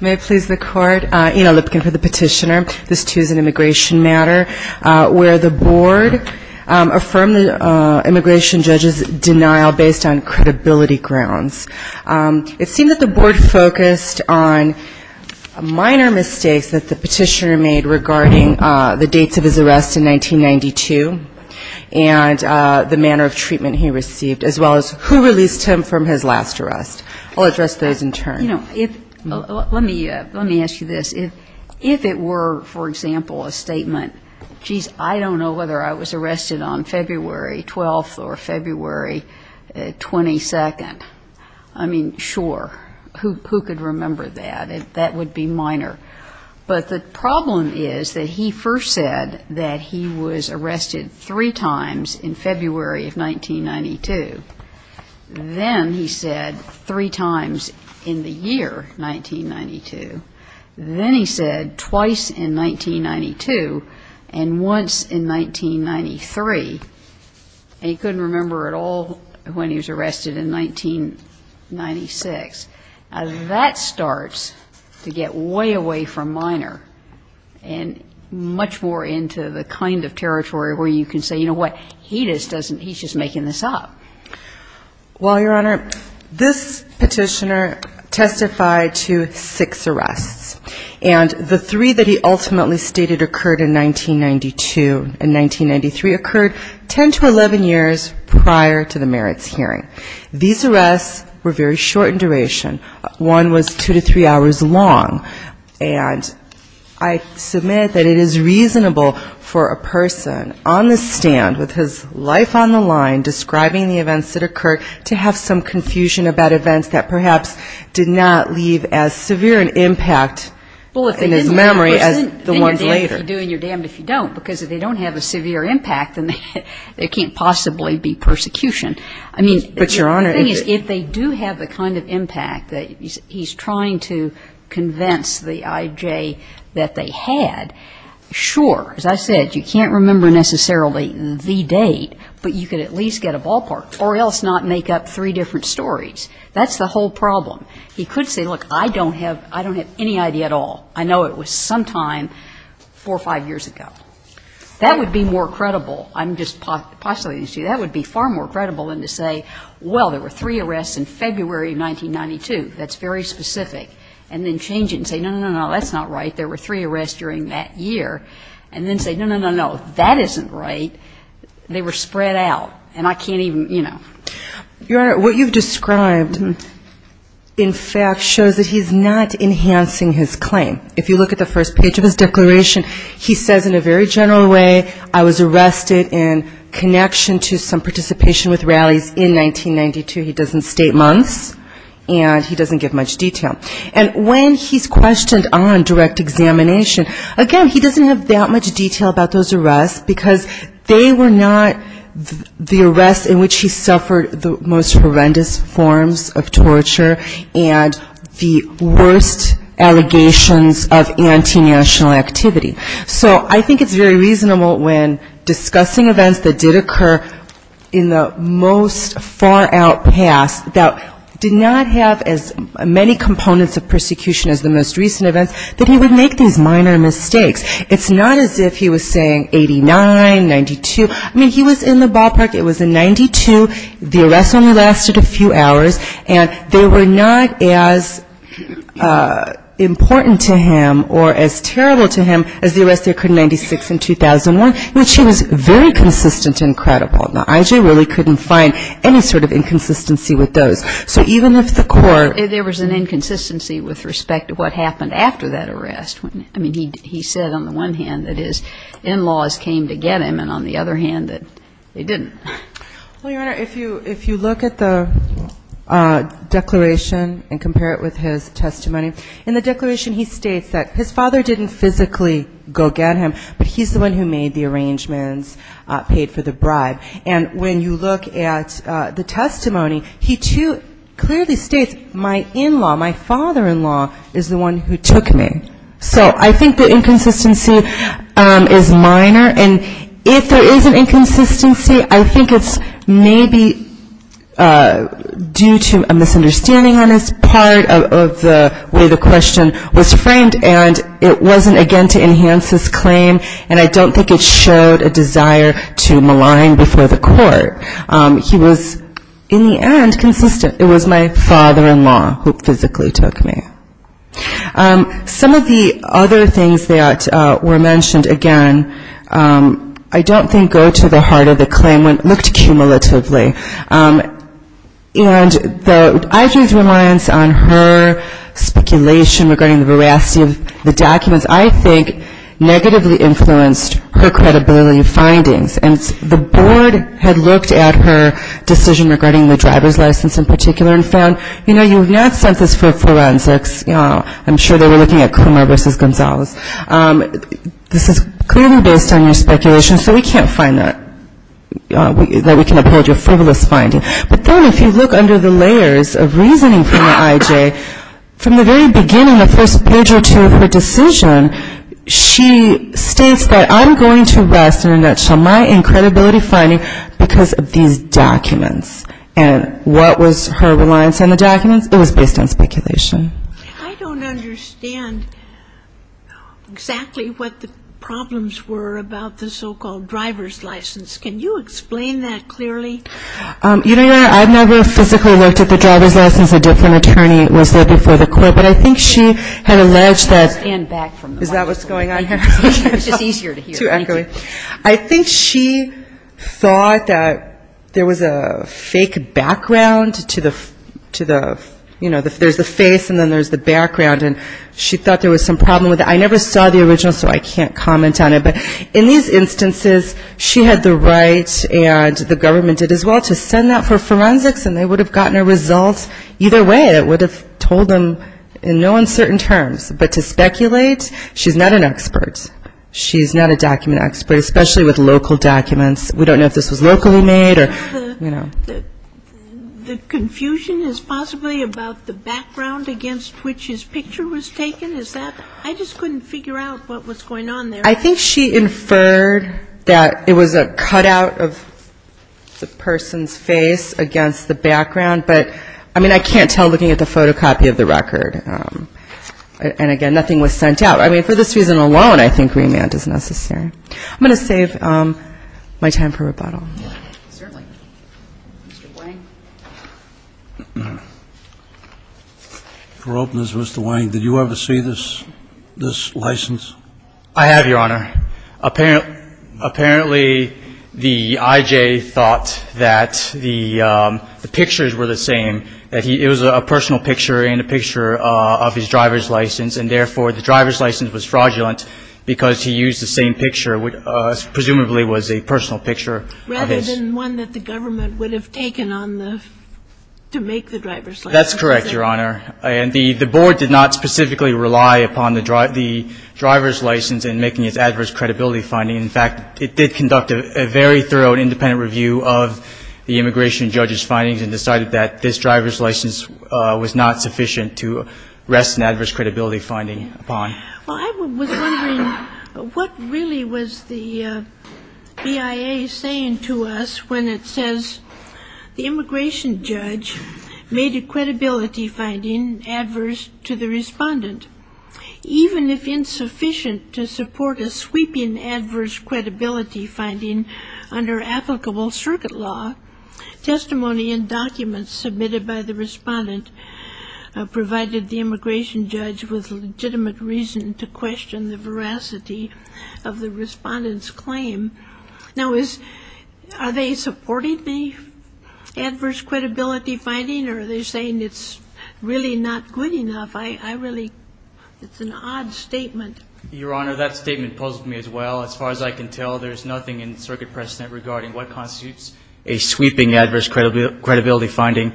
May it please the court, Ina Lipkin for the petitioner. This too is an immigration matter where the board affirmed the immigration judge's denial based on credibility grounds. It seemed that the board focused on minor mistakes that the petitioner made regarding the dates of his arrest in 1992 and the manner of treatment he received as well as who released him from his last arrest. I'll address those in turn. Let me ask you this. If it were, for example, a statement, geez, I don't know whether I was arrested on February 12th or February 22nd, I mean, sure, who could remember that? That would be minor. But the problem is that he first said that he was arrested three times in February of 1992. Then he said three times in the year 1992. Then he said twice in 1992 and once in 1993. And he couldn't remember at all when he was arrested in 1996. That starts to get way away from minor and much more into the kind of territory where you can say, you know what, he just doesn't, he's just making this up. Well, Your Honor, this petitioner testified to six arrests. And the three that he ultimately stated occurred in 1992 and 1993 occurred 10 to 11 years prior to the merits hearing. These arrests were very short in duration. One was two to three hours long. And I submit that it is reasonable for a person on the stand with his life on the line describing the events of that hearing to be able to say, well, I was arrested in 1992. But I was arrested in 1993. So I can't say that it's reasonable for a person on the stand with his life on the line describing the events that occurred to have some confusion about events that perhaps did not leave as severe an impact in his memory as the ones later. I mean, the thing is, if they do have the kind of impact that he's trying to convince the I.J. that they had, sure, as I said, you can't remember necessarily the date, but you could at least get a ballpark or else not make up three different stories. That's the whole problem. He could say, look, I don't have any idea at all. I know it was sometime four or five years ago. That would be more credible. I'm just postulating to you. That would be far more credible than to say, well, there were three arrests in February of 1992. That's very specific. And then change it and say, no, no, no, no, that's not right. There were three arrests during that year. And then say, no, no, no, no, that isn't right. They were spread out. And I can't even, you know. Your Honor, what you've described in fact shows that he's not enhancing his claim. If you look at the first page of his declaration, he says in a very general way, I was arrested in connection to some participation with rallies in 1992. He doesn't state months. And he doesn't give much detail. And when he's questioned on direct examination, again, he doesn't have that much detail about those arrests because they were not the arrests in which he suffered the most horrendous forms of torture and the worst allegations of anti-national activity. So I think it's very reasonable when discussing events that did occur in the most far out past that did not have as many components of persecution as the most recent events that he would make these minor mistakes. It's not as if he was saying 89, 92. I mean, he was in the ballpark. It was in 92. The arrests only lasted a few hours. And they were not as important to him or as terrible to him as the arrests that occurred in 96 and 2001, which he was very consistent and credible. Now, I really couldn't find any sort of inconsistency with those. So even if the court ‑‑ There was an inconsistency with respect to what happened after that arrest. I mean, he said on the one hand that his in-laws came to get him and on the other hand that they didn't. Well, Your Honor, if you look at the declaration and compare it with his testimony, in the declaration he states that his father didn't physically go get him, but he's the one who made the arrangements, paid for the bribe. And when you look at the testimony, he too clearly states my in‑law, my father‑in‑law is the one who took me. So I think the inconsistency is minor. And if there is an inconsistency, I think it's maybe due to a misunderstanding on his part of the way the question was framed and it wasn't, again, to enhance his claim and I don't think it showed a desire to malign before the court. He was, in the end, consistent. It was my father‑in‑law who physically took me. Some of the other things that were mentioned, again, I don't think go to the heart of the claim, looked cumulatively. And the IG's reliance on her speculation regarding the veracity of the documents, I think, negatively influenced her credibility findings. And the board had looked at her decision regarding the driver's license in particular and found, you know, you have not sent this for forensics. I'm sure they were looking at Coomer v. Gonzalez. This is clearly based on your speculation, so we can't find that, that we can uphold your frivolous finding. But then if you look under the layers of reasoning from the IG, from the very beginning, the first page or two of her decision, she states that I'm going to rest, in a nutshell, my credibility finding because of these documents. And what was her reliance on the documents? It was based on speculation. I don't understand exactly what the problems were about the so‑called driver's license. Can you explain that clearly? You know what? I've never physically looked at the driver's license. A different attorney was there before the court. But I think she had alleged that ‑‑ Stand back from the microphone. Is that what's going on here? It's just easier to hear. Thank you. I think she thought that there was a fake background to the, you know, there's the face and then there's the background. And she thought there was some problem with it. I never saw the original, so I can't comment on it. But in these instances, she had the right and the government did as well to send that for forensics and they would have gotten a result. Either way, it would have told them in no uncertain terms. But to speculate, she's not an expert. She's not a document expert, especially with local documents. We don't know if this was locally made or, you know. The confusion is possibly about the background against which his picture was taken? Is that ‑‑ I just couldn't figure out what was going on there. I think she inferred that it was a cutout of the person's face against the background. But, I mean, I can't tell looking at the photocopy of the record. And, again, nothing was sent out. So, I mean, for this reason alone, I think remand is necessary. I'm going to save my time for rebuttal. For openness, Mr. Wayne, did you ever see this license? I have, Your Honor. Apparently, the I.J. thought that the pictures were the same, that it was a personal picture and a picture of his driver's license. And therefore, the driver's license was fraudulent because he used the same picture, which presumably was a personal picture of his. Rather than one that the government would have taken on the ‑‑ to make the driver's license. That's correct, Your Honor. And the board did not specifically rely upon the driver's license in making its adverse credibility finding. In fact, it did conduct a very thorough and independent review of the immigration judge's findings and decided that this driver's license was not sufficient to rest an adverse credibility finding upon. Well, I was wondering what really was the BIA saying to us when it says, the immigration judge made a credibility finding adverse to the respondent. Even if insufficient to support a sweeping adverse credibility finding under applicable circuit law, testimony and documents submitted by the respondent provided the immigration judge with legitimate reason to question the veracity of the respondent's claim. Now, is ‑‑ are they supporting the adverse credibility finding or are they saying it's really not good enough? I really ‑‑ it's an odd statement. Your Honor, that statement puzzled me as well. As far as I can tell, there's nothing in circuit precedent regarding what constitutes a sweeping adverse credibility finding.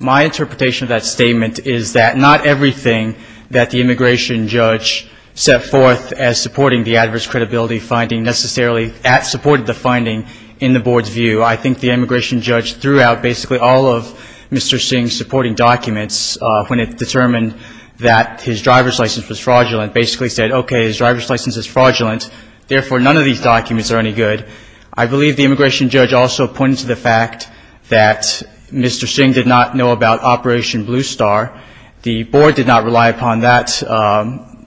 My interpretation of that statement is that not everything that the immigration judge set forth as supporting the adverse credibility finding necessarily supported the finding in the board's view. I think the immigration judge threw out basically all of Mr. Singh's supporting documents when it determined that his driver's license was fraudulent. Basically said, okay, his driver's license is fraudulent, therefore, none of these documents are any good. I believe the immigration judge also pointed to the fact that Mr. Singh did not know about Operation Blue Star. The board did not rely upon that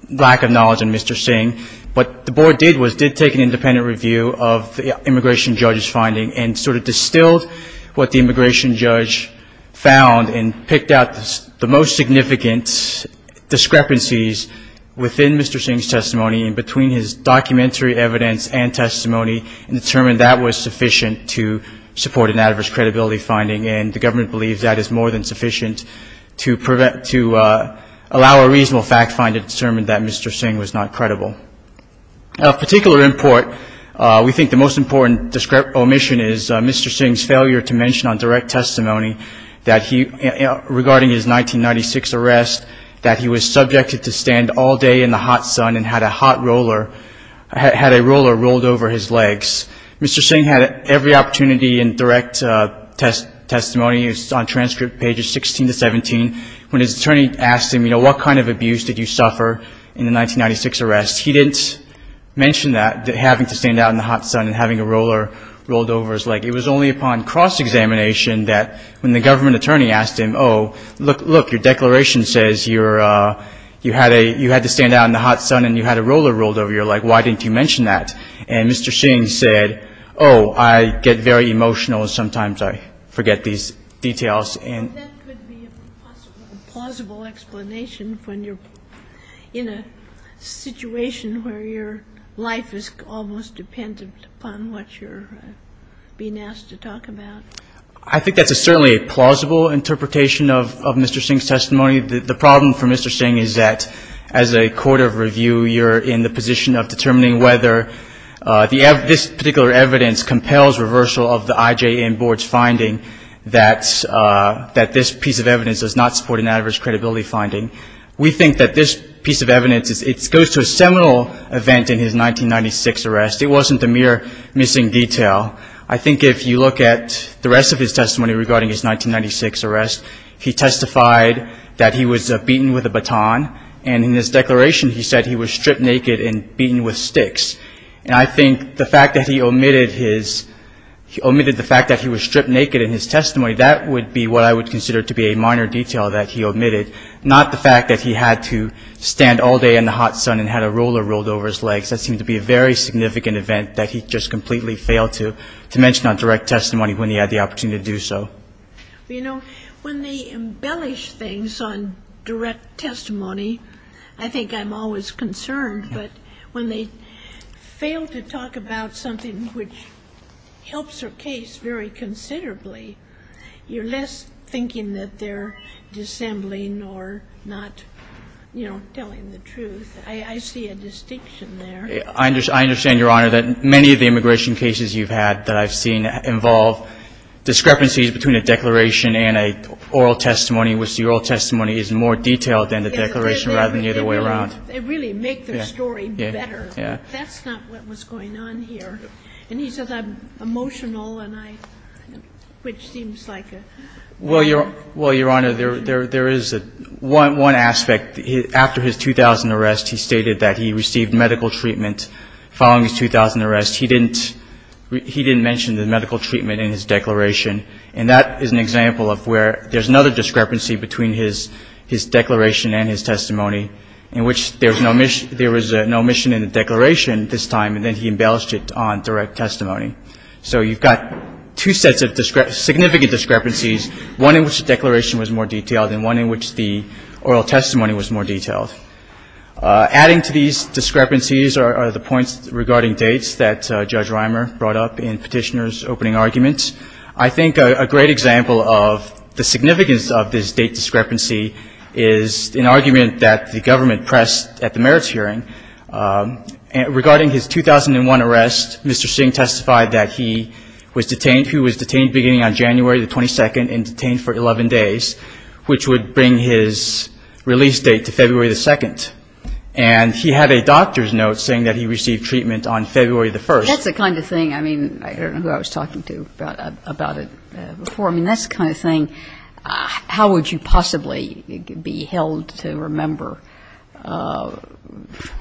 lack of knowledge in Mr. Singh. What the board did was did take an independent review of the immigration judge's finding and sort of distilled what the immigration judge found and picked out the most significant discrepancies within Mr. Singh's testimony and between his documentary evidence and testimony and determined that was sufficient to support an adverse credibility finding. And the government believes that is more than sufficient to allow a reasonable fact find to determine that Mr. Singh was not credible. Of particular import, we think the most important omission is Mr. Singh's failure to mention on direct testimony that he, regarding his 1996 arrest, that he was subjected to stand all day in the hot sun and had a hot roller, had a roller rolled over his legs. Mr. Singh had every opportunity in direct testimony on transcript pages 16 to 17 when his attorney asked him, you know, what kind of abuse did you suffer in the 1996 arrest? He didn't mention that, that having to stand out in the hot sun and having a roller rolled over his leg. It was only upon cross-examination that when the government attorney asked him, oh, look, your declaration says you had to stand out in the hot sun and you had a roller rolled over your leg. Why didn't you mention that? And Mr. Singh said, oh, I get very emotional and sometimes I forget these details. And that could be a possible, plausible explanation when you're in a situation where your life is almost dependent upon what you're being asked to talk about. I think that's certainly a plausible interpretation of Mr. Singh's testimony. The problem for Mr. Singh is that, as a court of review, you're in the position of determining whether this particular evidence compels reversal of the IJN board's finding that this piece of evidence does not support an adverse credibility finding. We think that this piece of evidence, it goes to a seminal event in his 1996 arrest. It wasn't a mere missing detail. I think if you look at the rest of his testimony regarding his 1996 arrest, he testified that he was beaten with a baton. And in his declaration, he said he was stripped naked and beaten with sticks. And I think the fact that he omitted the fact that he was stripped naked in his testimony, that would be what I would consider to be a minor detail that he omitted, not the fact that he had to stand all day in the hot sun and had a roller rolled over his legs. That seemed to be a very significant event that he just completely failed to mention on direct testimony when he had the opportunity to do so. You know, when they embellish things on direct testimony, I think I'm always concerned. But when they fail to talk about something which helps their case very considerably, you're less thinking that they're dissembling or not, you know, telling the truth. I see a distinction there. I understand, Your Honor, that many of the immigration cases you've had that I've seen involve discrepancies between a declaration and an oral testimony, which the oral testimony is more detailed than the declaration rather than the other way around. They really make their story better. That's not what was going on here. And he says I'm emotional, which seems like a... Well, Your Honor, there is one aspect. After his 2000 arrest, he stated that he received medical treatment. Following his 2000 arrest, he didn't mention the medical treatment in his declaration. And that is an example of where there's another discrepancy between his declaration and his testimony, in which there was no omission in the declaration this time, and then he embellished it on direct testimony. So you've got two sets of significant discrepancies, one in which the declaration was more detailed and one in which the oral testimony was more detailed. Adding to these discrepancies are the points regarding dates that Judge Reimer brought up in Petitioner's opening argument. I think a great example of the significance of this date discrepancy is an argument that the government pressed at the merits hearing. Regarding his 2001 arrest, Mr. Singh testified that he was detained. He was detained beginning on January the 22nd and detained for 11 days, which would bring his release date to February the 2nd. And he had a doctor's note saying that he received treatment on February the 1st. That's the kind of thing. I mean, I don't know who I was talking to about it before. I mean, that's the kind of thing. How would you possibly be held to remember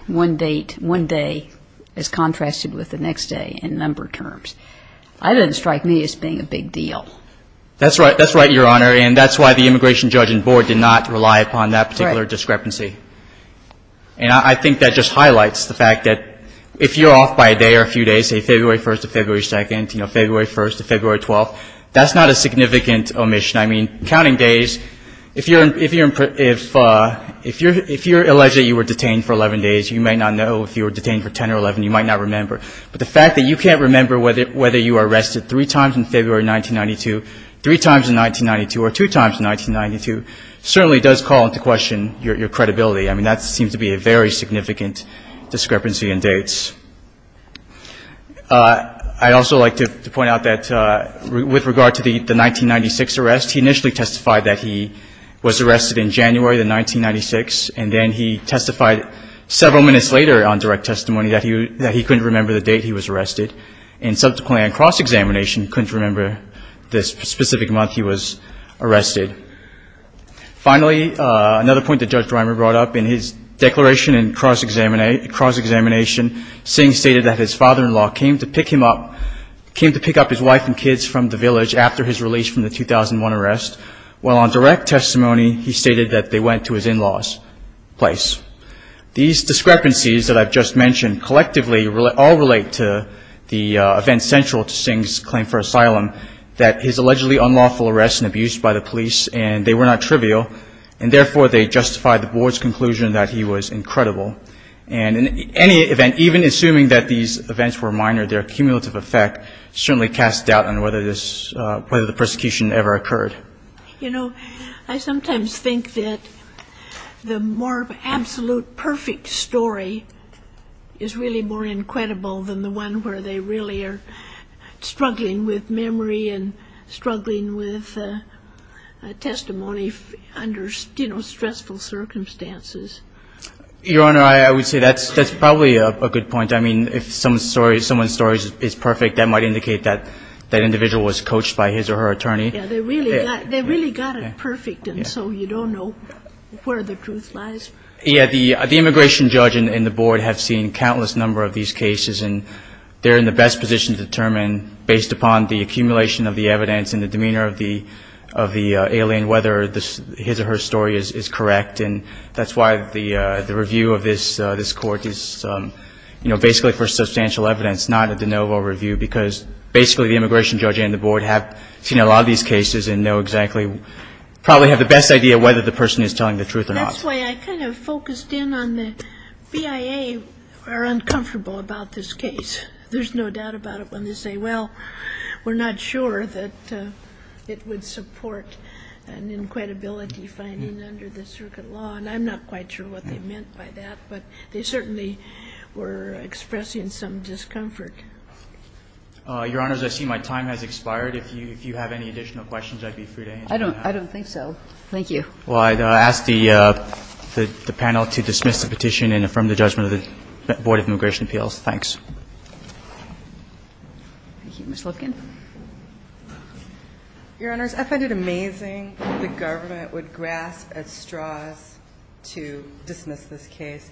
one date, one day, as contrasted with the next day in number terms? That doesn't strike me as being a big deal. That's right. That's right, Your Honor. And that's why the immigration judge and board did not rely upon that particular discrepancy. And I think that just highlights the fact that if you're off by a day or a few days say February 1st to February 2nd, you know, February 1st to February 12th, that's not a significant omission. I mean, counting days, if you're alleged that you were detained for 11 days, you might not know. If you were detained for 10 or 11, you might not remember. But the fact that you can't remember whether you were arrested three times in February 1992, three times in 1992, or two times in 1992, certainly does call into question your credibility. I mean, that seems to be a very significant discrepancy in dates. I'd also like to point out that with regard to the 1996 arrest, he initially testified that he was arrested in January of 1996. And then he testified several minutes later on direct testimony that he couldn't remember the date he was arrested. And subsequently on cross-examination, couldn't remember the specific month he was arrested. Finally, another point that Judge Dreimer brought up, in his declaration in cross-examination, Singh stated that his father-in-law came to pick him up, came to pick up his wife and kids from the village after his release from the 2001 arrest, while on direct testimony he stated that they went to his in-laws' place. These discrepancies that I've just mentioned collectively all relate to the event central to Singh's claim for asylum, that his allegedly unlawful arrest and abuse by the police, and they were not trivial, and therefore they justify the board's conclusion that he was incredible. And in any event, even assuming that these events were minor, their cumulative effect certainly casts doubt on whether the persecution ever occurred. You know, I sometimes think that the more absolute perfect story is really more incredible than the one where they really are struggling with memory and testimony under, you know, stressful circumstances. Your Honor, I would say that's probably a good point. I mean, if someone's story is perfect, that might indicate that that individual was coached by his or her attorney. Yeah, they really got it perfect, and so you don't know where the truth lies. Yeah, the immigration judge and the board have seen countless number of these cases, and they're in the best position to determine, based upon the testimony of the alien, whether his or her story is correct. And that's why the review of this court is, you know, basically for substantial evidence, not a de novo review, because basically the immigration judge and the board have seen a lot of these cases and know exactly, probably have the best idea whether the person is telling the truth or not. That's why I kind of focused in on the BIA are uncomfortable about this case. There's no doubt about it when they say, well, we're not sure that it would support an inquietability finding under the circuit law. And I'm not quite sure what they meant by that, but they certainly were expressing some discomfort. Your Honors, I see my time has expired. If you have any additional questions, I'd be free to answer them now. I don't think so. Thank you. Well, I'd ask the panel to dismiss the petition and affirm the judgment of the Board of Immigration Appeals. Thanks. Thank you. Ms. Lipkin. Your Honors, I find it amazing that the government would grasp at straws to dismiss this case.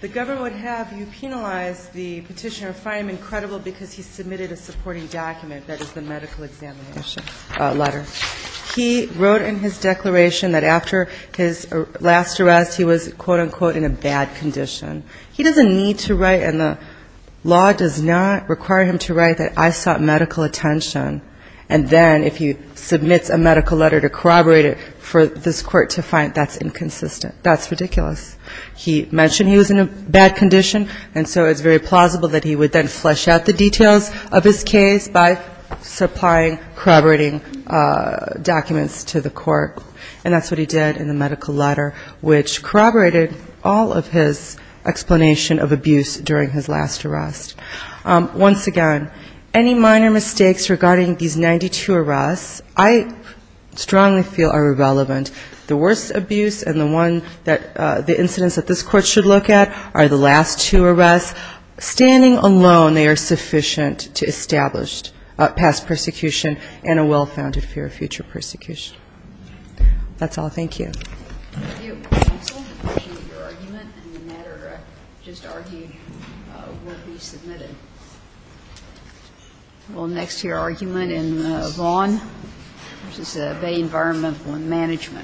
The government would have you penalize the petitioner, find him incredible because he submitted a supporting document that is the medical examination letter. He wrote in his declaration that after his last arrest he was, quote, unquote, in a bad condition. He doesn't need to write and the law does not require him to write that I sought medical attention. And then if he submits a medical letter to corroborate it for this court to find, that's inconsistent. That's ridiculous. He mentioned he was in a bad condition, and so it's very plausible that he would then flesh out the details of his case by supplying corroborating documents to the court. And that's what he did in the medical letter, which corroborated all of his explanation of abuse during his last arrest. Once again, any minor mistakes regarding these 92 arrests I strongly feel are relevant. The worst abuse and the incidents that this court should look at are the last two arrests. Standing alone, they are sufficient to establish past persecution and a well-founded fear of future persecution. That's all. Thank you. Thank you. Thank you, counsel. Appreciate your argument. And the matter just argued will be submitted. We'll next hear argument in Vaughn v. Bay Environmental Management. Thank you. Thank you. Thank you.